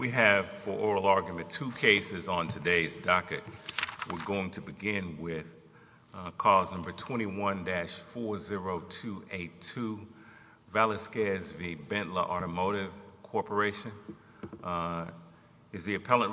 We have, for oral argument, two cases on today's docket. We're going to begin with cause number 21-40282, Valazquez v. Bentler Automotive Corporation. Is the court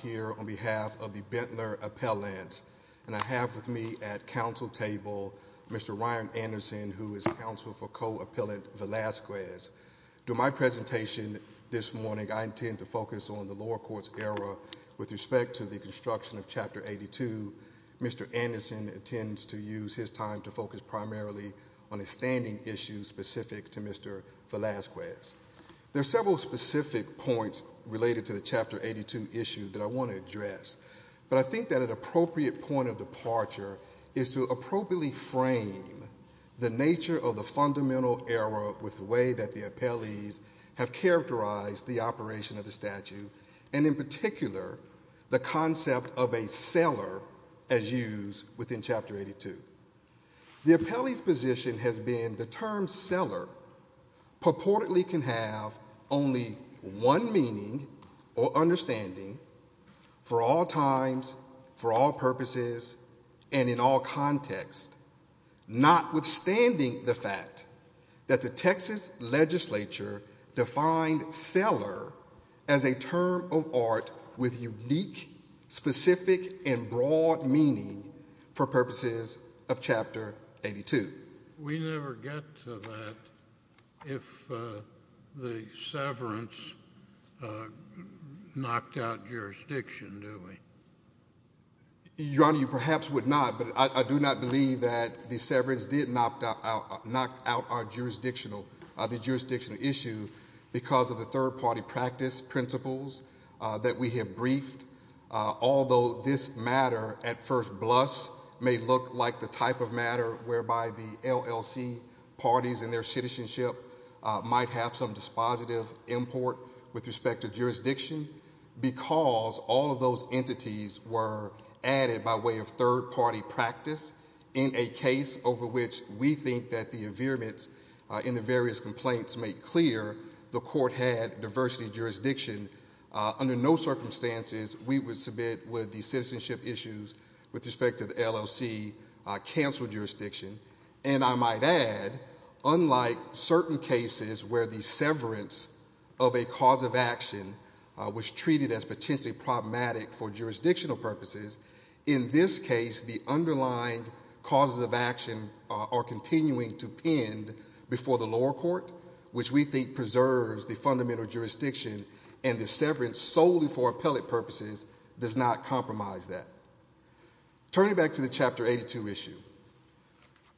here on behalf of the Bentler Appellant, and I have with me at counsel table Mr. Ryan Anderson, who is counsel for co-appellant Valazquez. During my presentation this morning, I intend to focus on the lower court's error with respect to the construction of Chapter 82, the standing issue specific to Mr. Valazquez. There are several specific points related to the Chapter 82 issue that I want to address, but I think that an appropriate point of departure is to appropriately frame the nature of the fundamental error with the way that the appellees have characterized the operation of the statute, and in particular, the concept of a seller as used within Chapter 82. The appellee's position has been the term seller purportedly can have only one meaning or understanding for all times, for all purposes, and in all contexts, notwithstanding the fact that the Texas legislature defined seller as a term of art with unique, specific, and broad meaning for purposes of Chapter 82. We never get to that if the severance knocked out jurisdiction, do we? Your Honor, you perhaps would not, but I do not believe that the severance did knock out our jurisdictional, the jurisdictional issue because of the third-party practice principles that we have briefed, although this matter, at first blush, may look like the type of matter whereby the LLC parties and their citizenship might have some dispositive import with respect to jurisdiction, because all of those entities were added by way of third-party practice in a case over which we think that the environments in the various complaints make clear the court had diversity of jurisdiction. Under no circumstances, we would submit with the citizenship issues with respect to the LLC cancel jurisdiction, and I might add, unlike certain cases where the severance of a cause of action was treated as potentially problematic for jurisdictional purposes, in this case, the underlying causes of action are continuing to pend before the lower court, which we think preserves the fundamental jurisdiction, and the severance solely for appellate purposes does not compromise that. Turning back to the Chapter 82 issue,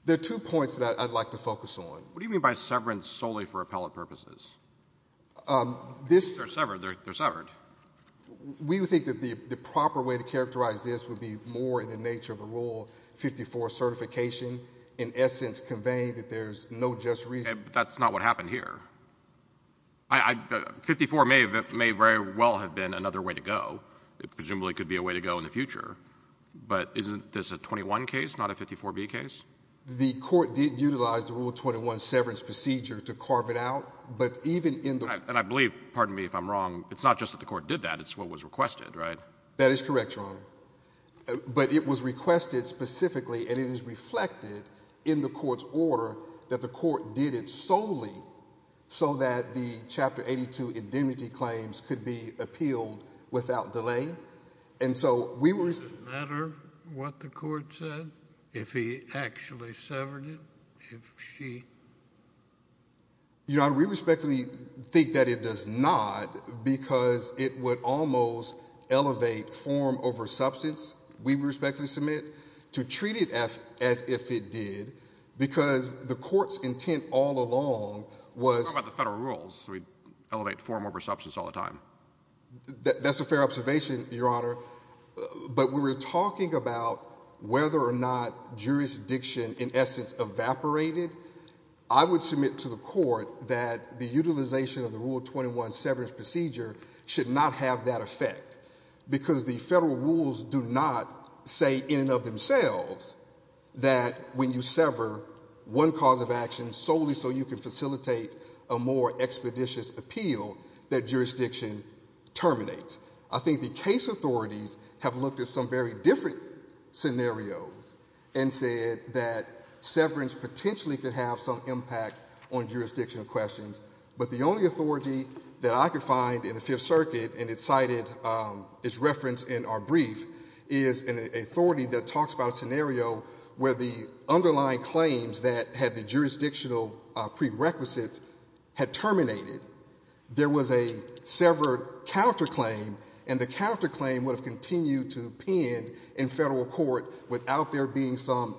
there are two points that I'd like to focus on. What do you mean by severance solely for appellate purposes? They're severed. They're severed. We would think that the proper way to characterize this would be more in the nature of a Rule 54 certification, in essence, conveying that there's no just reason. But that's not what happened here. 54 may very well have been another way to go. It presumably could be a way to go in the future, but isn't this a 21 case, not a 54b case? The court did utilize the Rule 21 severance procedure to carve it out, but even in the— And I believe, pardon me if I'm wrong, it's not just that the court did that. It's what was but it was requested specifically, and it is reflected in the court's order that the court did it solely so that the Chapter 82 indemnity claims could be appealed without delay. And so we were— Does it matter what the court said, if he actually severed it, if she— Your Honor, we respectfully think that it does not, because it would almost elevate form over substance. We respectfully submit to treat it as if it did, because the court's intent all along was— We're talking about the federal rules, so we'd elevate form over substance all the time. That's a fair observation, Your Honor. But we were talking about whether or not that the utilization of the Rule 21 severance procedure should not have that effect, because the federal rules do not say in and of themselves that when you sever one cause of action solely so you can facilitate a more expeditious appeal, that jurisdiction terminates. I think the case authorities have looked at some very different scenarios and said that questions, but the only authority that I could find in the Fifth Circuit, and it's cited its reference in our brief, is an authority that talks about a scenario where the underlying claims that had the jurisdictional prerequisites had terminated. There was a severed counterclaim, and the counterclaim would have continued to append in federal court without there being some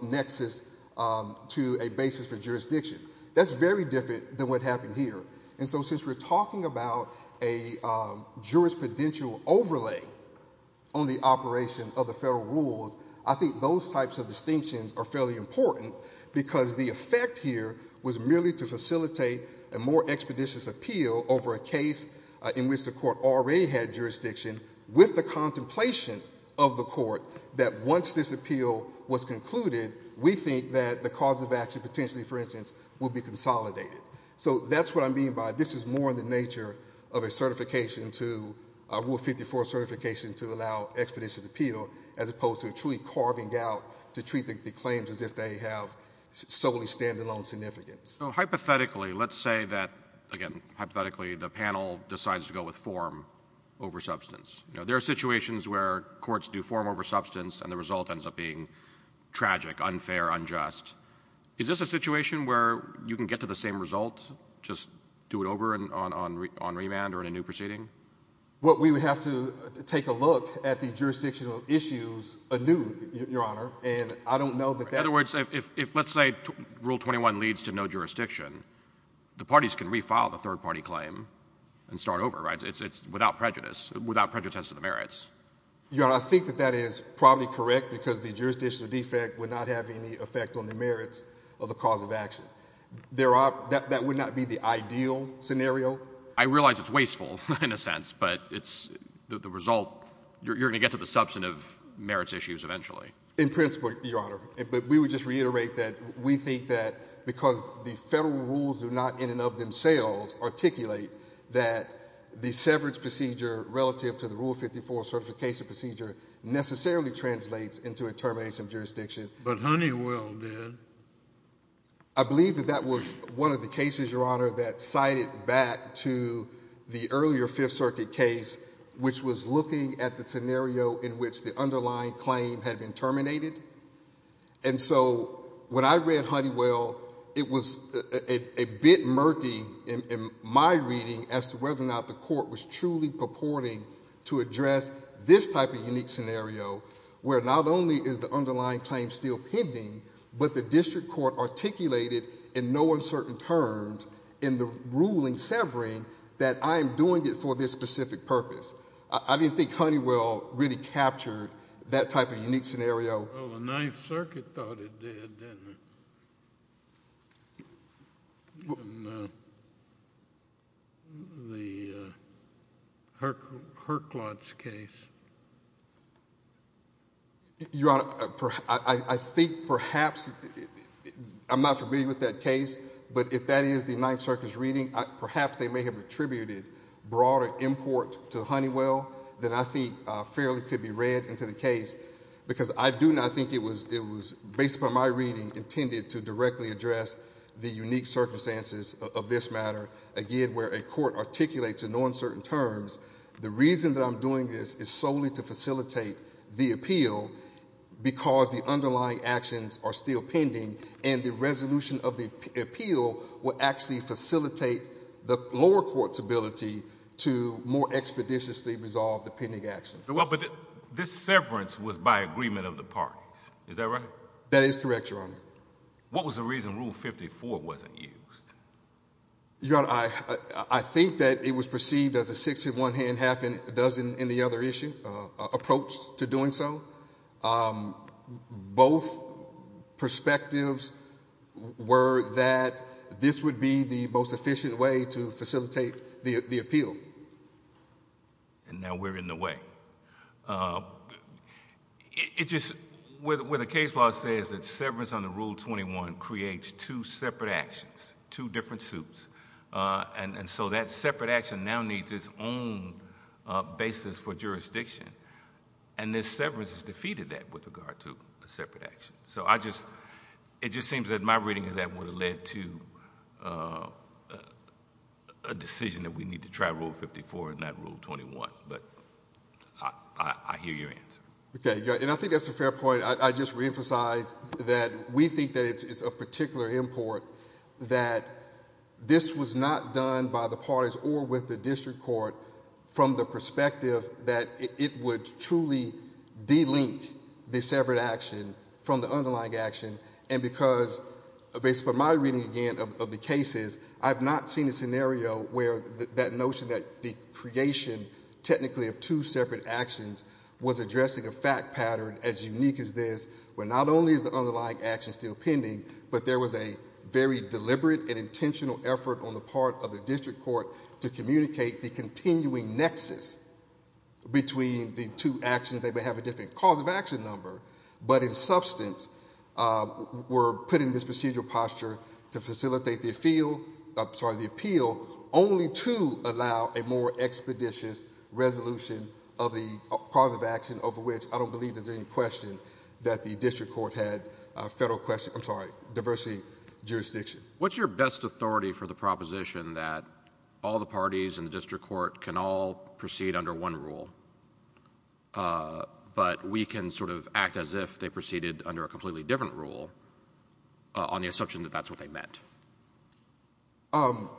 jurisdiction. That's very different than what happened here. And so since we're talking about a jurisprudential overlay on the operation of the federal rules, I think those types of distinctions are fairly important, because the effect here was merely to facilitate a more expeditious appeal over a case in which the court already had jurisdiction, with the contemplation of the court that once this appeal was concluded, we think that the cause of action potentially, for instance, will be consolidated. So that's what I mean by this is more in the nature of a certification to a Rule 54 certification to allow expeditious appeal, as opposed to truly carving out to treat the claims as if they have solely standalone significance. So hypothetically, let's say that, again, hypothetically, the panel decides to go with form over substance. There are situations where courts do form over substance, and the result ends up being where you can get to the same result, just do it over on remand or in a new proceeding? Well, we would have to take a look at the jurisdictional issues anew, Your Honor. In other words, if let's say Rule 21 leads to no jurisdiction, the parties can refile the third-party claim and start over, right? It's without prejudice, without prejudice to the merits. Your Honor, I think that that is probably correct, because the jurisdictional defect would not have any effect on the merits of the cause of action. That would not be the ideal scenario. I realize it's wasteful, in a sense, but you're going to get to the substantive merits issues eventually. In principle, Your Honor. But we would just reiterate that we think that because the federal rules do not in and of themselves articulate that the severance procedure relative to the Rule 54 certification procedure necessarily translates into a termination of jurisdiction. But Honeywell did. I believe that that was one of the cases, Your Honor, that cited back to the earlier Fifth Circuit case, which was looking at the scenario in which the underlying claim had been terminated. And so when I read Honeywell, it was a bit murky in my reading as to whether or not the Court was truly purporting to address this type of unique scenario, where not only is the underlying claim still pending, but the District Court articulated in no uncertain terms in the ruling severing that I am doing it for this specific purpose. I didn't think Honeywell really captured that type of unique scenario. Well, the Ninth Circuit thought it did, didn't it, in the Herklots case. Your Honor, I think perhaps, I am not familiar with that case, but if that is the Ninth Circuit's reading, perhaps they may have attributed broader import to Honeywell that I think fairly could be read into the case. Because I do not think it was, based upon my reading, intended to directly address the unique circumstances of this matter. Again, where a court articulates in no uncertain terms, the reason that I am doing this is solely to facilitate the appeal, because the underlying actions are still pending, and the resolution of the appeal will actually facilitate the lower court's ability to more expeditiously resolve the pending actions. Well, but this severance was by agreement of the parties. Is that right? That is correct, Your Honor. What was the reason Rule 54 wasn't used? Your Honor, I think that it was perceived as a six-in-one-hand, half-in-a-dozen-in-the-other issue approach to doing so. Both perspectives were that this would be the most efficient way to facilitate the appeal. And now we're in the way. It just, where the case law says that severance under Rule 21 creates two separate actions, two different suits. And so that separate action now needs its own basis for jurisdiction. And this severance has defeated that with regard to the separate action. So I just, it just seems that my reading of that would have led to a decision that we need to try Rule 54 and not Rule 21. But I hear your answer. Okay. And I think that's a fair point. I just reemphasize that we think that it's a particular import that this was not done by the parties or with the district court from the perspective that it would truly de-link the separate action from the underlying action. And because, based on my reading again of the cases, I've not seen a scenario where that notion that the creation technically of two separate actions was addressing a fact pattern as unique as this, where not only is the underlying action still pending, but there was a very deliberate and intentional effort on the part of the district court to communicate the continuing nexus between the two actions. They may have a different cause of action number, but in substance were put in this procedural posture to facilitate the appeal only to allow a more expeditious resolution of the cause of action over which I don't believe there's any question that the district court had a federal question, I'm sorry, diversity jurisdiction. What's your best authority for the proposition that all the parties in the district court can all proceed under one rule, but we can sort of act as if they proceeded under a completely different rule on the assumption that that's what they meant? Um,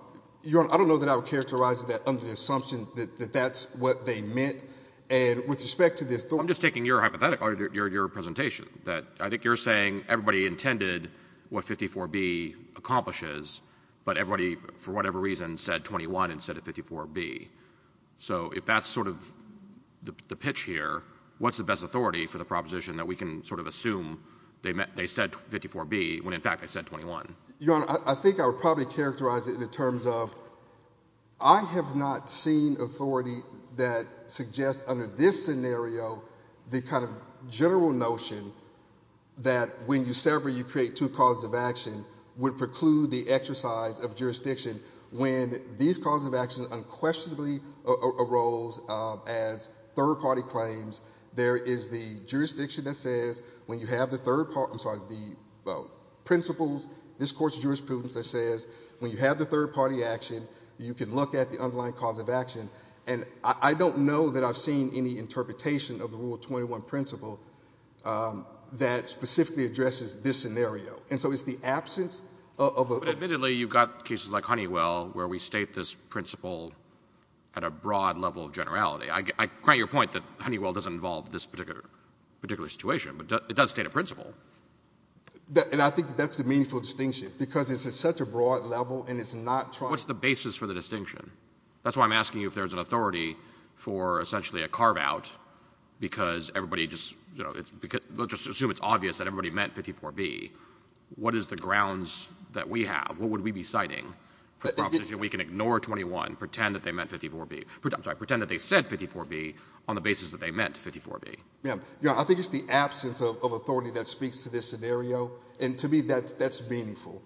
Your Honor, I don't know that I would characterize that under the assumption that that's what they meant. And with respect to the authority... I'm just taking your hypothetical, your presentation, that I think you're saying everybody intended what 54B accomplishes, but everybody, for whatever reason, said 21 instead of 54B. So if that's sort of the pitch here, what's the best authority for the proposition that we can sort of assume they said 54B when in fact they said 21? Your Honor, I think I would probably characterize it in terms of I have not seen authority that suggests under this scenario, the kind of general notion that when you sever, you create two causes of action would preclude the exercise of jurisdiction when these causes of action unquestionably arose as third party claims. There is the jurisdiction that says when you have the third part, I'm sorry, the principles, this Court's jurisprudence that says when you have the third party action, you can look at the underlying cause of action. And I don't know that I've seen any interpretation of the Rule 21 principle that specifically addresses this scenario. And so it's the absence of a... But admittedly, you've got cases like Honeywell where we state this principle at a broad level of generality. I grant your point that Honeywell doesn't involve this particular situation, but it does state a principle. And I think that's the meaningful distinction because it's at such a broad level and it's not... What's the basis for the distinction? That's why I'm asking you if there's an authority for essentially a carve out because everybody just, you know, let's just assume it's obvious that everybody meant 54B. What is the grounds that we have? What would we be citing for proposition we can ignore 21, pretend that they meant 54B, I'm sorry, pretend that they said 54B on the basis that they meant 54B? Yeah. I think it's the absence of authority that speaks to this scenario. And to me, that's meaningful.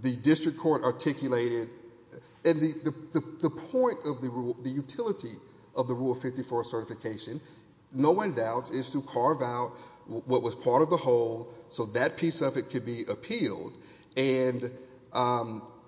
The district court articulated... And the point of the rule, the utility of the Rule 54 certification, no one doubts, is to carve out what was part of the whole so that piece of it could be appealed. And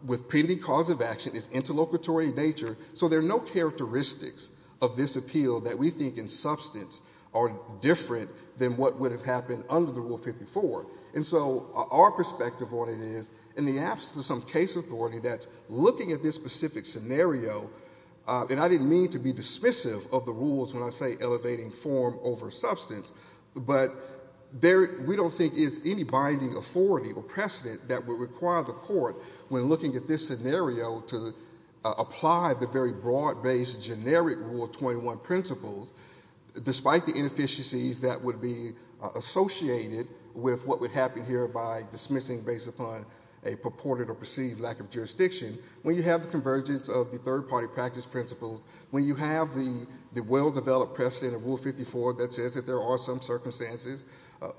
with pending cause of action is interlocutory in nature. So there are no characteristics of this appeal that we think in substance are different than what would have happened under the Rule 54. And so our perspective on it is in the absence of some case authority that's looking at this specific scenario, and I didn't mean to be dismissive of the rules when I say elevating form over substance, but we don't think it's any binding authority or precedent that would require the court, when looking at this scenario, to apply the very broad-based generic Rule 21 principles, despite the inefficiencies that would be associated with what would happen here by dismissing based upon a purported or perceived lack of jurisdiction. When you have the convergence of the third-party practice principles, when you have the well- developed precedent of Rule 54 that says that there are some circumstances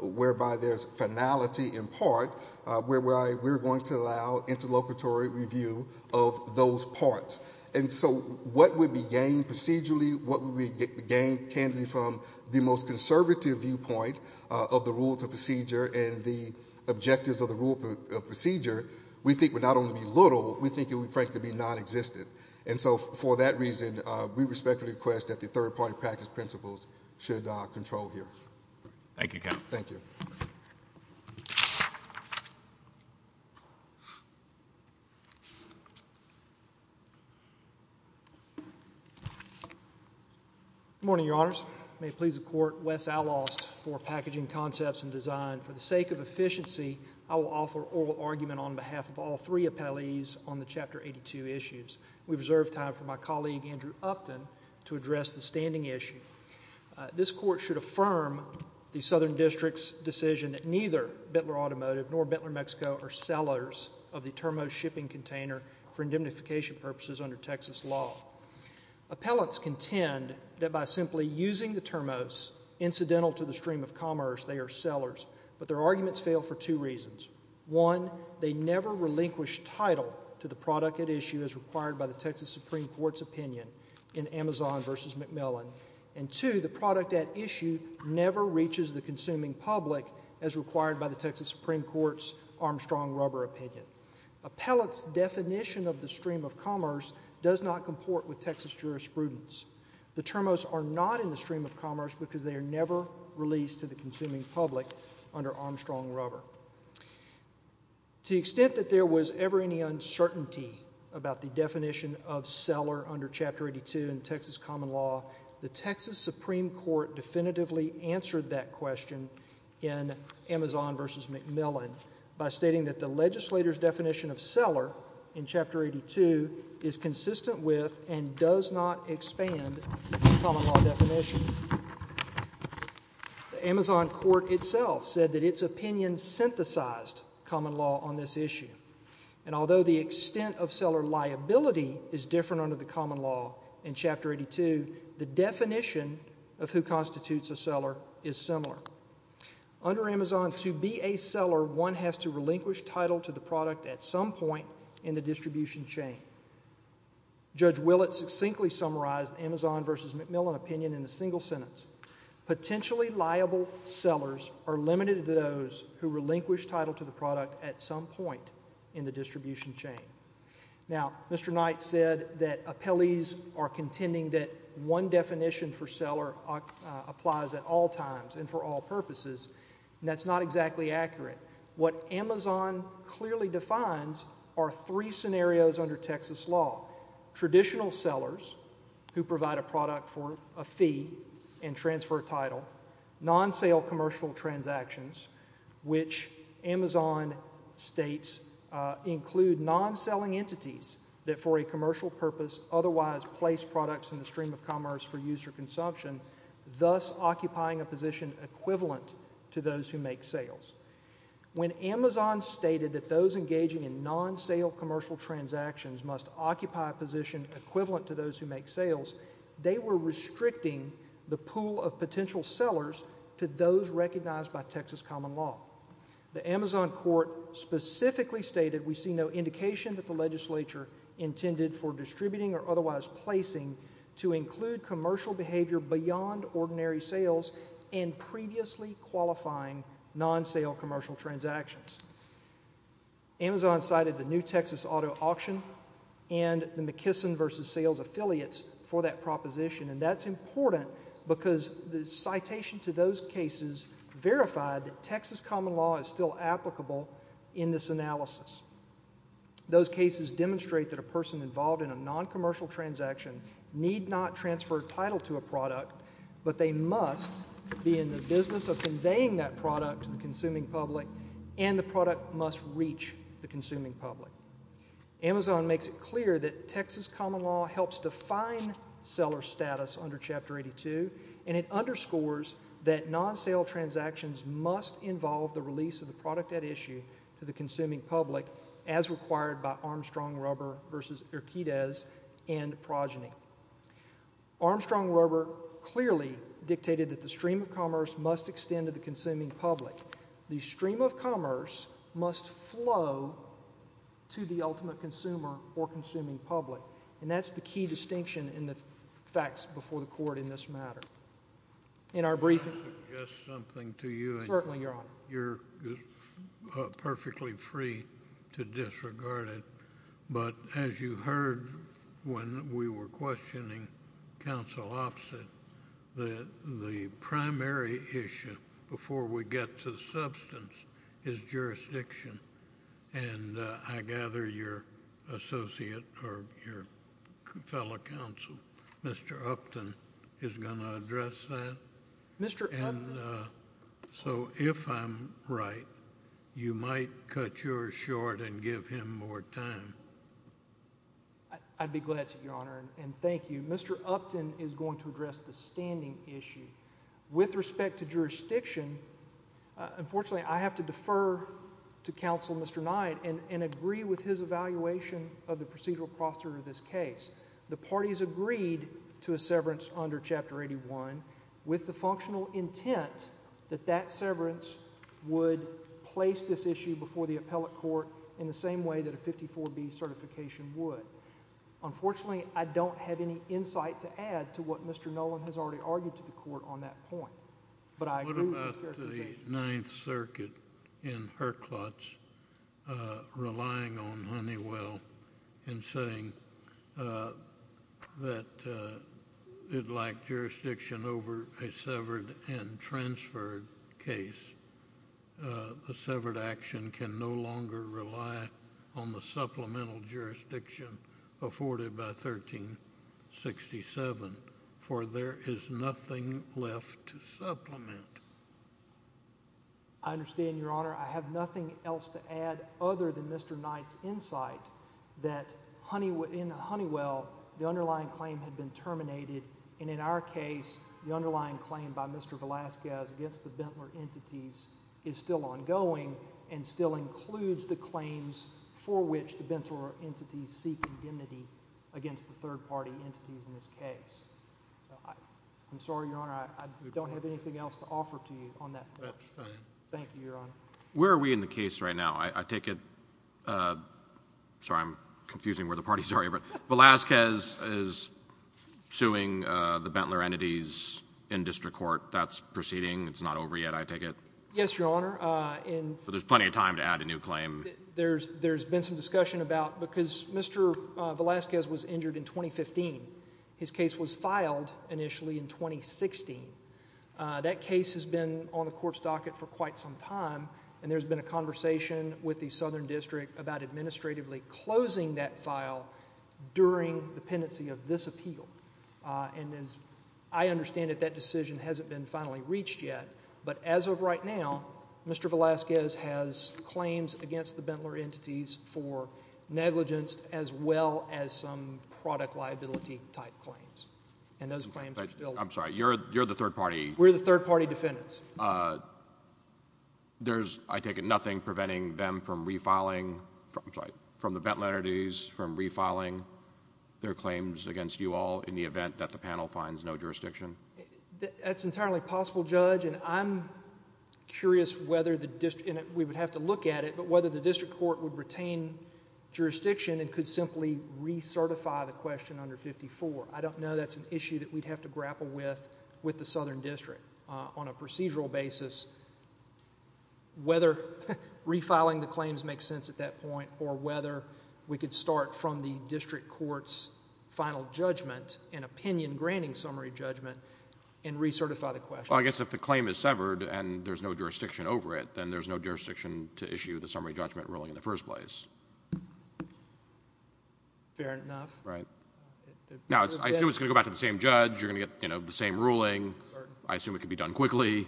whereby there's finality in part, whereby we're going to allow interlocutory review of those parts. And so what would be gained procedurally, what would be gained candidly from the most conservative viewpoint of the rules of procedure and the objectives of the rule of procedure, we think would not only be little, we think it would frankly be non-existent. And so for that reason, we respectfully request that the Court approve this. Good morning, Your Honors. May it please the Court, Wes Allost for Packaging Concepts and Design. For the sake of efficiency, I will offer oral argument on behalf of all three appellees on the Chapter 82 issues. We reserve time for my colleague, Andrew Upton, to address the standing issue. This Court should affirm the Southern District's decision that neither Bentler Automotive nor Bentler Mexico are sellers of the Termos shipping container for indemnification purposes under Texas law. Appellants contend that by simply using the Termos, incidental to the stream of commerce, they are sellers. But their arguments fail for two reasons. One, they never relinquish title to the product at issue as required by the Texas Supreme Court's opinion in Amazon versus McMillan. And two, the product at issue never reaches the consuming public as required by the Texas Supreme Court's Armstrong rubber opinion. Appellants' definition of the stream of commerce does not comport with Texas jurisprudence. The Termos are not in the stream of commerce because they are never released to the consuming public under Armstrong rubber. To the extent that there was ever any uncertainty about the definition of seller under Chapter 82 in Texas common law, the Texas Supreme Court definitively answered that question in Amazon versus McMillan by stating that the legislator's definition of seller in Chapter 82 is consistent with and does not expand the common law definition. The Amazon court itself said that its opinion synthesized common law on this issue. And although the extent of seller liability is different under common law in Chapter 82, the definition of who constitutes a seller is similar. Under Amazon, to be a seller, one has to relinquish title to the product at some point in the distribution chain. Judge Willett succinctly summarized the Amazon versus McMillan opinion in a single sentence. Potentially liable sellers are limited to those who relinquish title to the product at some point in the distribution chain. Now, Mr. Knight said that appellees are contending that one definition for seller applies at all times and for all purposes. That's not exactly accurate. What Amazon clearly defines are three scenarios under Texas law. Traditional sellers who provide a product for a fee and transfer title, non-sale commercial transactions, which Amazon states include non-selling entities that for a commercial purpose otherwise place products in the stream of commerce for use or consumption, thus occupying a position equivalent to those who make sales. When Amazon stated that those engaging in non-sale commercial transactions must occupy a position equivalent to those who make sales, they were restricting the pool of potential sellers to those recognized by Texas common law. The Amazon court specifically stated we see no indication that the legislature intended for distributing or otherwise placing to include commercial behavior beyond ordinary sales and previously qualifying non-sale commercial transactions. Amazon cited the new Texas auto auction and the McKesson versus sales affiliates for that proposition, and that's important because the citation to those cases verified that Texas common law is still applicable in this analysis. Those cases demonstrate that a person involved in a non-commercial transaction need not transfer title to a product, but they must be in the business of Amazon makes it clear that Texas common law helps define seller status under chapter 82, and it underscores that non-sale transactions must involve the release of the product at issue to the consuming public as required by Armstrong rubber versus Erquidez and Progeny. Armstrong rubber clearly dictated that the stream of commerce must extend to the consuming public. The stream of commerce must flow to the ultimate consumer or consuming public, and that's the key distinction in the facts before the court in this matter. In our briefing, just something to you. Certainly, your honor. You're perfectly free to disregard it, but as you heard when we were questioning counsel opposite, the primary issue before we get to the substance is jurisdiction, and I gather your associate or your fellow counsel, Mr. Upton, is going to address that. Mr. Upton. And so, if I'm right, you might cut yours short and give him more time. I'd be glad to, your honor, and thank you. Mr. Upton is going to address the standing issue. With respect to jurisdiction, unfortunately, I have to defer to counsel Mr. Knight and agree with his evaluation of the procedural procedure of this case. The parties agreed to a severance under chapter 81 with the functional intent that that severance would place this issue before the court, and Mr. Knight has already argued to the court on that point, but I agree with his clarification. What about the Ninth Circuit in Herklotsch relying on Honeywell and saying that it lacked jurisdiction over a severed and transferred case? The severed action can no longer rely on the supplemental jurisdiction afforded by 1367, for there is nothing left to supplement. I understand, your honor. I have nothing else to add other than Mr. Knight's insight that in Honeywell, the underlying claim had been terminated, and in our case, the underlying claim by Mr. Velasquez against the Bentler entities is still ongoing and still includes the claims for which the Bentler entities seek indemnity against the third-party entities in this case. I'm sorry, your honor. I don't have anything else to offer to you on that. Thank you, your honor. Where are we in the case right now? I take it, sorry, I'm confusing where the parties are, but Velasquez is suing the Bentler entities in district court. That's proceeding. It's not over yet, I take it? Yes, your honor. There's plenty of time to add a new claim. There's been some discussion about, because Mr. Velasquez was injured in 2015, his case was filed initially in 2016. That case has been on the court's docket for quite some time, and there's been a conversation with the Southern District about administratively closing that file during the pendency of this appeal. As I understand it, that decision hasn't been reached yet, but as of right now, Mr. Velasquez has claims against the Bentler entities for negligence as well as some product liability type claims. I'm sorry, you're the third-party? We're the third-party defendants. I take it nothing preventing them from refiling, I'm sorry, from the Bentler entities from refiling their claims against you all in the event that the panel finds no jurisdiction? That's entirely possible, Judge, and I'm curious whether the district, and we would have to look at it, but whether the district court would retain jurisdiction and could simply recertify the question under 54. I don't know that's an issue that we'd have to grapple with with the Southern District. On a procedural basis, whether refiling the claims makes sense at that point or whether we could start from the district court's final judgment, an opinion summary judgment, and recertify the question. Well, I guess if the claim is severed and there's no jurisdiction over it, then there's no jurisdiction to issue the summary judgment ruling in the first place. Fair enough. Right. Now, I assume it's going to go back to the same judge, you're going to get the same ruling, I assume it could be done quickly,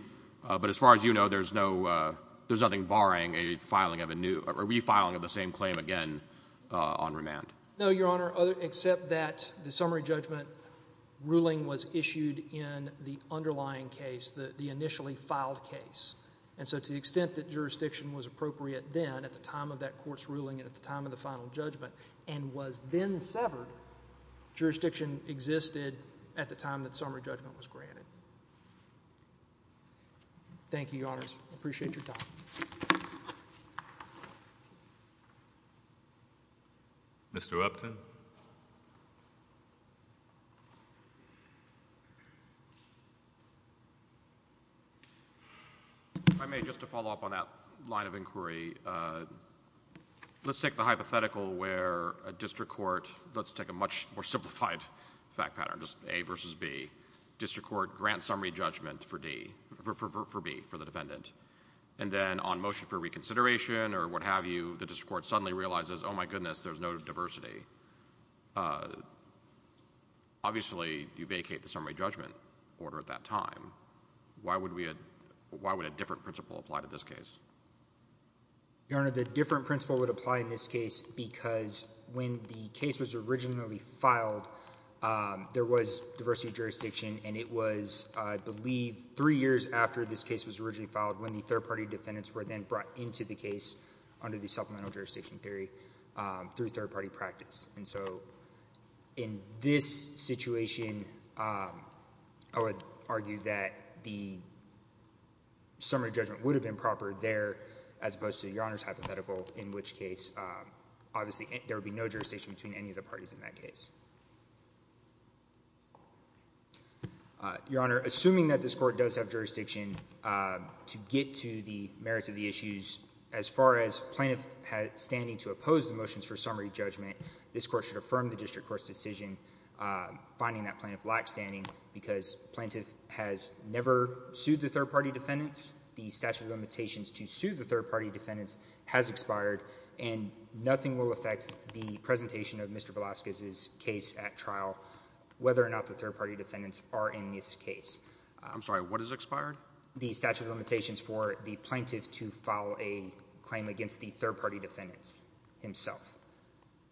but as far as you know, there's nothing barring a refiling of the same claim again on remand. No, Your Honor, except that the summary judgment ruling was issued in the underlying case, the initially filed case, and so to the extent that jurisdiction was appropriate then, at the time of that court's ruling and at the time of the final judgment, and was then severed, jurisdiction existed at the time that summary judgment was granted. Thank you, Your Honors. Appreciate your time. Mr. Upton? If I may, just to follow up on that line of inquiry, let's take the hypothetical where a district court, let's take a much more simplified fact pattern, just A versus B, on motion for reconsideration or what have you, the district court suddenly realizes, oh my goodness, there's no diversity. Obviously, you vacate the summary judgment order at that time. Why would a different principle apply to this case? Your Honor, the different principle would apply in this case because when the case was originally filed, there was diversity of jurisdiction, and it was, I believe, three years after this case was originally filed when the third-party defendants were then brought into the case under the supplemental jurisdiction theory through third-party practice. And so in this situation, I would argue that the summary judgment would have been proper there as opposed to Your Honor's hypothetical, in which case, obviously, there would be no jurisdiction between any of the parties in that case. Your Honor, assuming that this court does have jurisdiction to get to the merits of the issues, as far as plaintiff standing to oppose the motions for summary judgment, this court should affirm the district court's decision finding that plaintiff lacks standing because plaintiff has never sued the third-party defendants, the statute of limitations to sue the third-party defendants has expired, and nothing will affect the presentation of Mr. Velazquez's case at trial, whether or not the third-party defendants are in this case. I'm sorry, what is expired? The statute of limitations for the plaintiff to file a claim against the third-party defendants himself.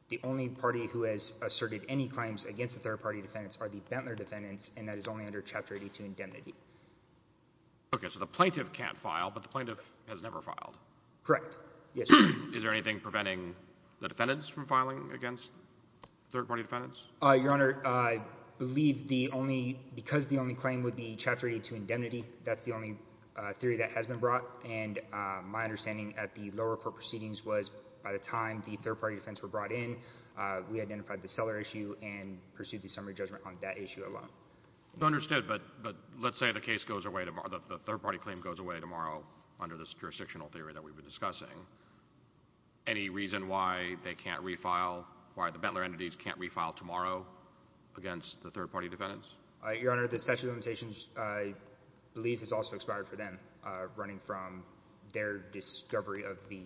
The only party who has asserted any claims against the third-party defendants are the Bentler defendants, and that is only under Chapter 82 indemnity. Okay, so the plaintiff can't file, but the plaintiff has never filed? Correct, yes, Your Honor. Is there anything preventing the defendants from filing against third-party defendants? Your Honor, I believe the only, because the only claim would be Chapter 82 indemnity, that's the only theory that has been brought, and my understanding at the lower court proceedings was by the time the third-party defendants were brought in, we identified the seller issue and pursued the summary judgment on that issue alone. Understood, but let's say the case goes away tomorrow, the third-party claim goes away tomorrow under this jurisdictional theory that we've been discussing. Any reason why they can't refile, why the Bentler entities can't refile tomorrow against the third-party defendants? Your Honor, the statute of limitations, I believe, has also expired for them, running from their discovery of the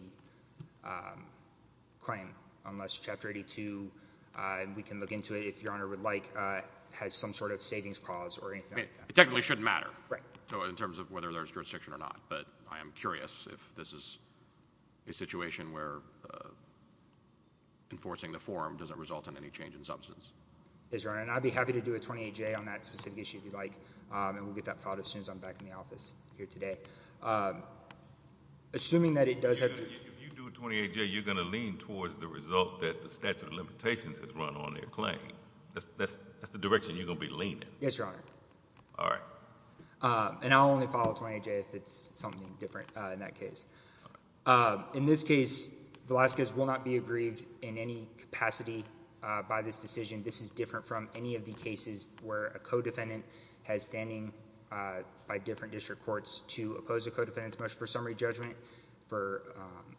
claim, unless Chapter 82, and we can look into it, if Your Honor would like, has some sort of savings clause or anything like that. It technically shouldn't matter. Right. In terms of whether there's jurisdiction or not, but I am curious if this is a situation where enforcing the forum doesn't result in any change in substance. Yes, Your Honor, and I'd be happy to do a 28-J on that specific issue if you'd like, and we'll get that filed as soon as I'm back in the office here today. Assuming that it does have to— If you do a 28-J, you're going to lean towards the result that the statute of limitations has run on their claim. That's the direction you're going to be leaning. Yes, Your Honor. All right. And I'll only follow a 28-J if it's something different in that case. In this case, Velazquez will not be aggrieved in any capacity by this decision. This is different from any of the cases where a co-defendant has standing by different district courts to oppose a co-defendant's motion for summary judgment.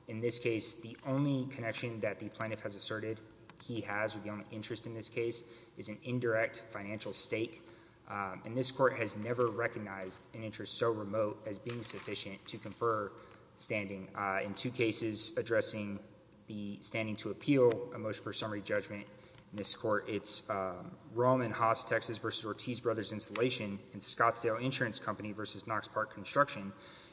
In this case, the only connection that the plaintiff has asserted he has, or the only interest in this case, is an indirect financial stake, and this court has never recognized an interest so remote as being sufficient to confer standing. In two cases addressing the standing to appeal a motion for summary judgment in this court, it's Rome and Haas, Texas v. Ortiz Brothers Installation and Scottsdale Insurance Company v. Knox Park Construction.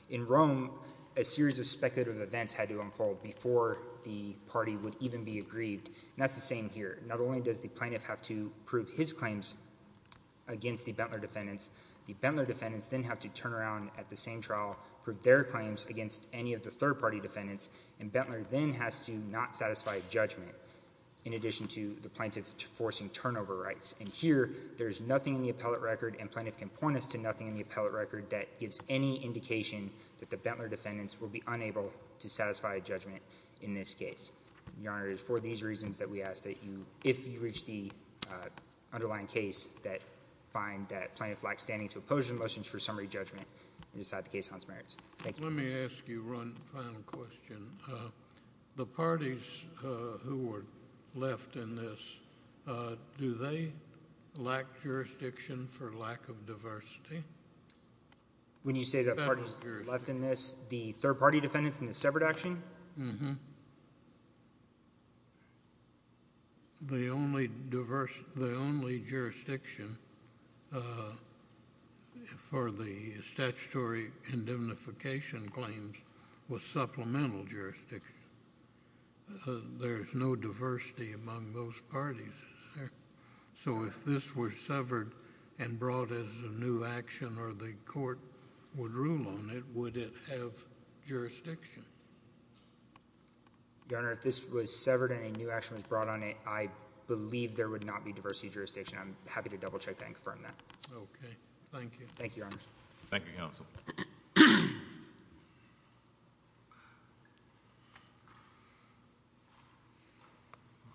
In Rome, a series of speculative events had to unfold before the party would even be aggrieved, and that's the same here. Not only does the plaintiff have to prove his claims against the Bentler defendants, the Bentler defendants then have to turn around at the same trial, prove their claims against any of the third-party defendants, and Bentler then has to not satisfy a judgment in addition to the plaintiff forcing turnover rights. And here, there's nothing in the appellate record, and plaintiff can point us to nothing in the appellate record that gives any indication that the Bentler defendants will be unable to satisfy a judgment in this case. Your Honor, it is for these reasons that we ask that you, if you reach the underlying case, that find that plaintiff lacks standing to oppose your motions for summary judgment and decide the case on its merits. Thank you. Let me ask you one final question. The parties who were left in this, do they lack jurisdiction for lack of diversity? When you say that parties left in this, the third-party defendants in the separate action? The only diverse, the only jurisdiction for the statutory indemnification claims was supplemental jurisdiction. There's no diversity among those parties. So if this were severed and brought as a new action or the court would rule on it, would it have jurisdiction? Your Honor, if this was severed and a new action was brought on it, I believe there would not be diversity jurisdiction. I'm happy to double-check that and confirm that. Okay. Thank you. Thank you, Your Honor. Thank you, counsel.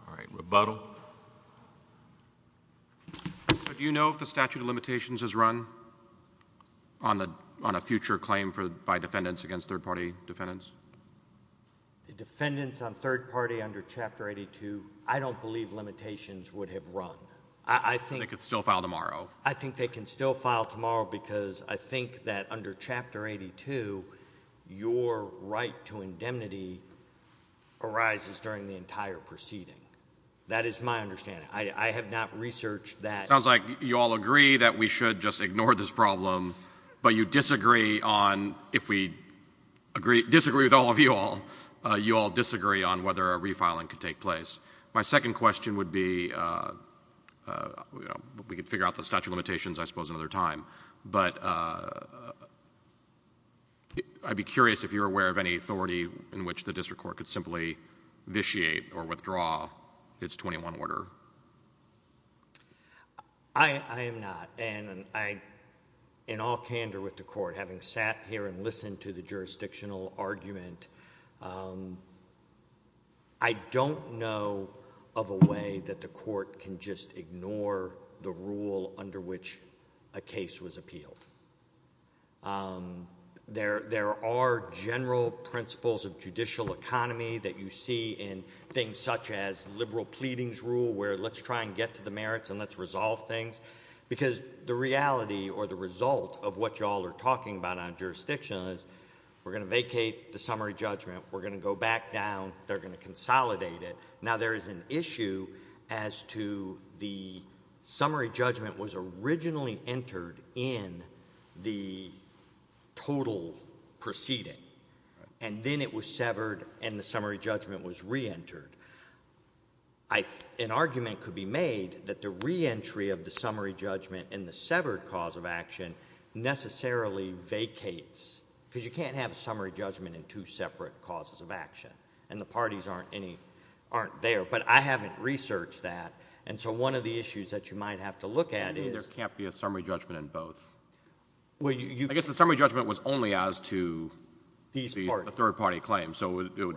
All right, rebuttal. Do you know if the statute of limitations has run on a future claim by defendants against third-party defendants? The defendants on third party under Chapter 82, I don't believe limitations would have run. I think they can still file tomorrow. I think they can still file tomorrow because I think that under Chapter 82, your right to indemnity arises during the entire proceeding. That is my understanding. I have not researched that. Sounds like you all agree that we should just ignore this problem, but you disagree on, if we disagree with all of you all, you all disagree on whether a refiling could take place. My second question would be, we could figure out the statute of limitations, I suppose, another time. But I'd be curious if you're aware of any authority in which the district court could vitiate or withdraw its 21 order. I am not. And in all candor with the court, having sat here and listened to the jurisdictional argument, I don't know of a way that the court can just ignore the rule under which a case was appealed. There are general principles of judicial economy that you see in things such as liberal pleadings rule, where let's try and get to the merits and let's resolve things. Because the reality or the result of what you all are talking about on jurisdiction is, we're going to vacate the summary judgment. We're going to go back down. They're going to vacate. Summary judgment was originally entered in the total proceeding. And then it was severed and the summary judgment was reentered. An argument could be made that the reentry of the summary judgment and the severed cause of action necessarily vacates. Because you can't have a summary judgment in two separate causes of action. And the parties aren't there. But I guess the summary judgment was only as to the third party claim. So it would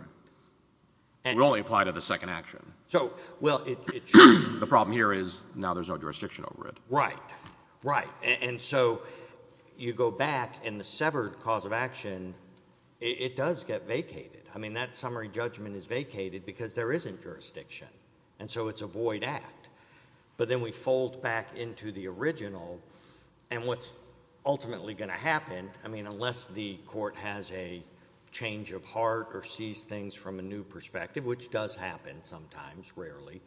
only apply to the second action. The problem here is now there's no jurisdiction over it. Right. Right. And so you go back and the severed cause of action, it does get vacated. I mean, that summary judgment is vacated because there isn't jurisdiction. And so it's a void act. But then we fold back into the original. And what's ultimately going to happen, I mean, unless the court has a change of heart or sees things from a new perspective, which does happen sometimes rarely,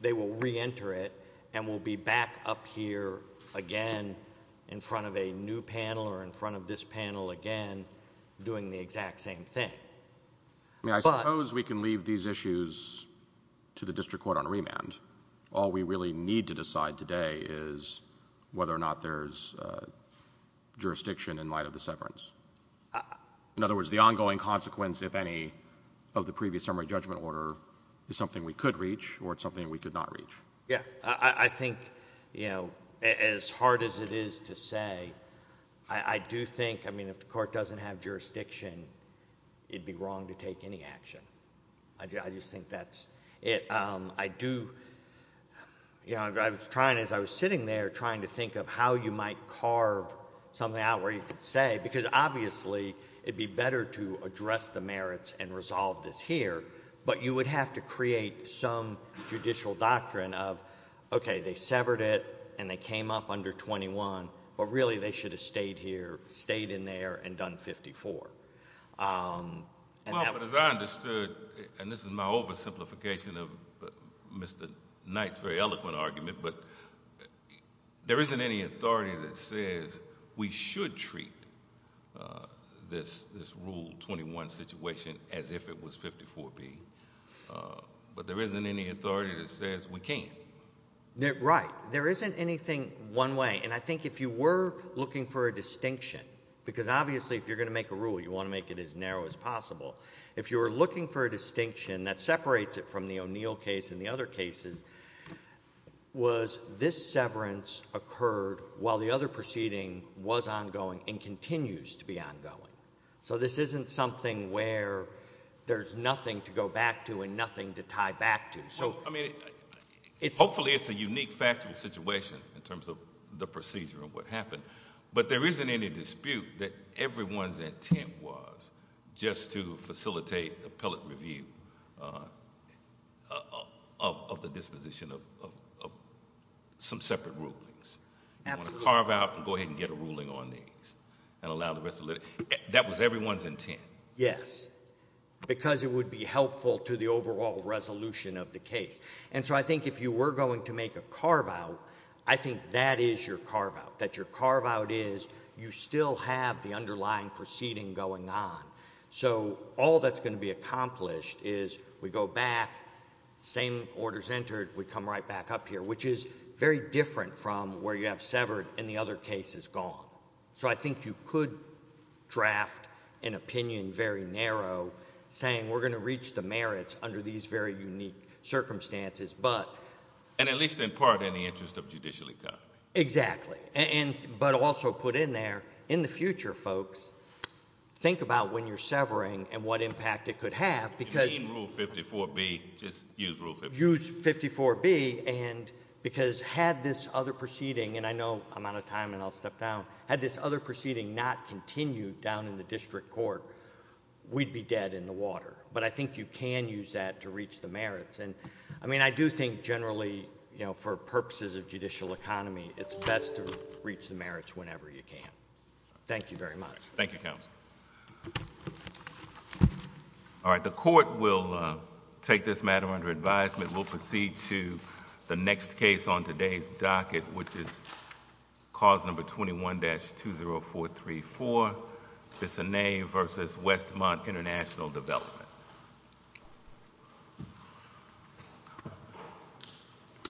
they will reenter it and we'll be back up here again in front of a new panel or in front of this panel again doing the exact same thing. I mean, I suppose we can leave these issues to the district court on remand. All we really need to decide today is whether or not there's jurisdiction in light of the severance. In other words, the ongoing consequence, if any, of the previous summary judgment order is something we could reach or it's something we could not reach. Yeah. I think, you know, as hard as it is to say, I do think, I mean, if the court doesn't have jurisdiction, it'd be wrong to take any action. I just think that's it. I do, you know, I was trying, as I was sitting there trying to think of how you might carve something out where you could say, because obviously it'd be better to address the merits and resolve this here, but you would have to create some judicial doctrine of, okay, they have to be fair and done 54. Well, but as I understood, and this is my oversimplification of Mr. Knight's very eloquent argument, but there isn't any authority that says we should treat this Rule 21 situation as if it was 54B, but there isn't any authority that says we can't. Right. There isn't anything one way, and I think if you were looking for a distinction, because obviously if you're going to make a rule, you want to make it as narrow as possible. If you were looking for a distinction that separates it from the O'Neill case and the other cases was this severance occurred while the other proceeding was ongoing and continues to be ongoing. So this isn't something where there's nothing to go back to and nothing to tie back to. So, I mean, hopefully it's a unique factual situation in terms of the procedure and what everyone's intent was just to facilitate appellate review of the disposition of some separate rulings. You want to carve out and go ahead and get a ruling on these and allow the rest of the... That was everyone's intent. Yes. Because it would be helpful to the overall resolution of the case. And so I think if you were going to make a carve-out, I think that is your carve-out, that your carve-out is you still have the underlying proceeding going on. So all that's going to be accomplished is we go back, same orders entered, we come right back up here, which is very different from where you have severed and the other case is gone. So I think you could draft an opinion very narrow saying we're going to reach the merits under these very unique circumstances, but... And at least in part in the interest of judicial economy. Exactly. But also put in there, in the future, folks, think about when you're severing and what impact it could have because... You mean Rule 54B, just use Rule 54B. Use 54B and because had this other proceeding, and I know I'm out of time and I'll step down, had this other proceeding not continued down in the district court, we'd be dead in the water. But I think you can use that to reach the merits. And I mean, I do think generally, for purposes of judicial economy, it's best to reach the merits whenever you can. Thank you very much. Thank you, counsel. All right. The court will take this matter under advisement. We'll proceed to the next case on today's docket, which is cause number 21-20434, Bissonnet versus Westmont International Development.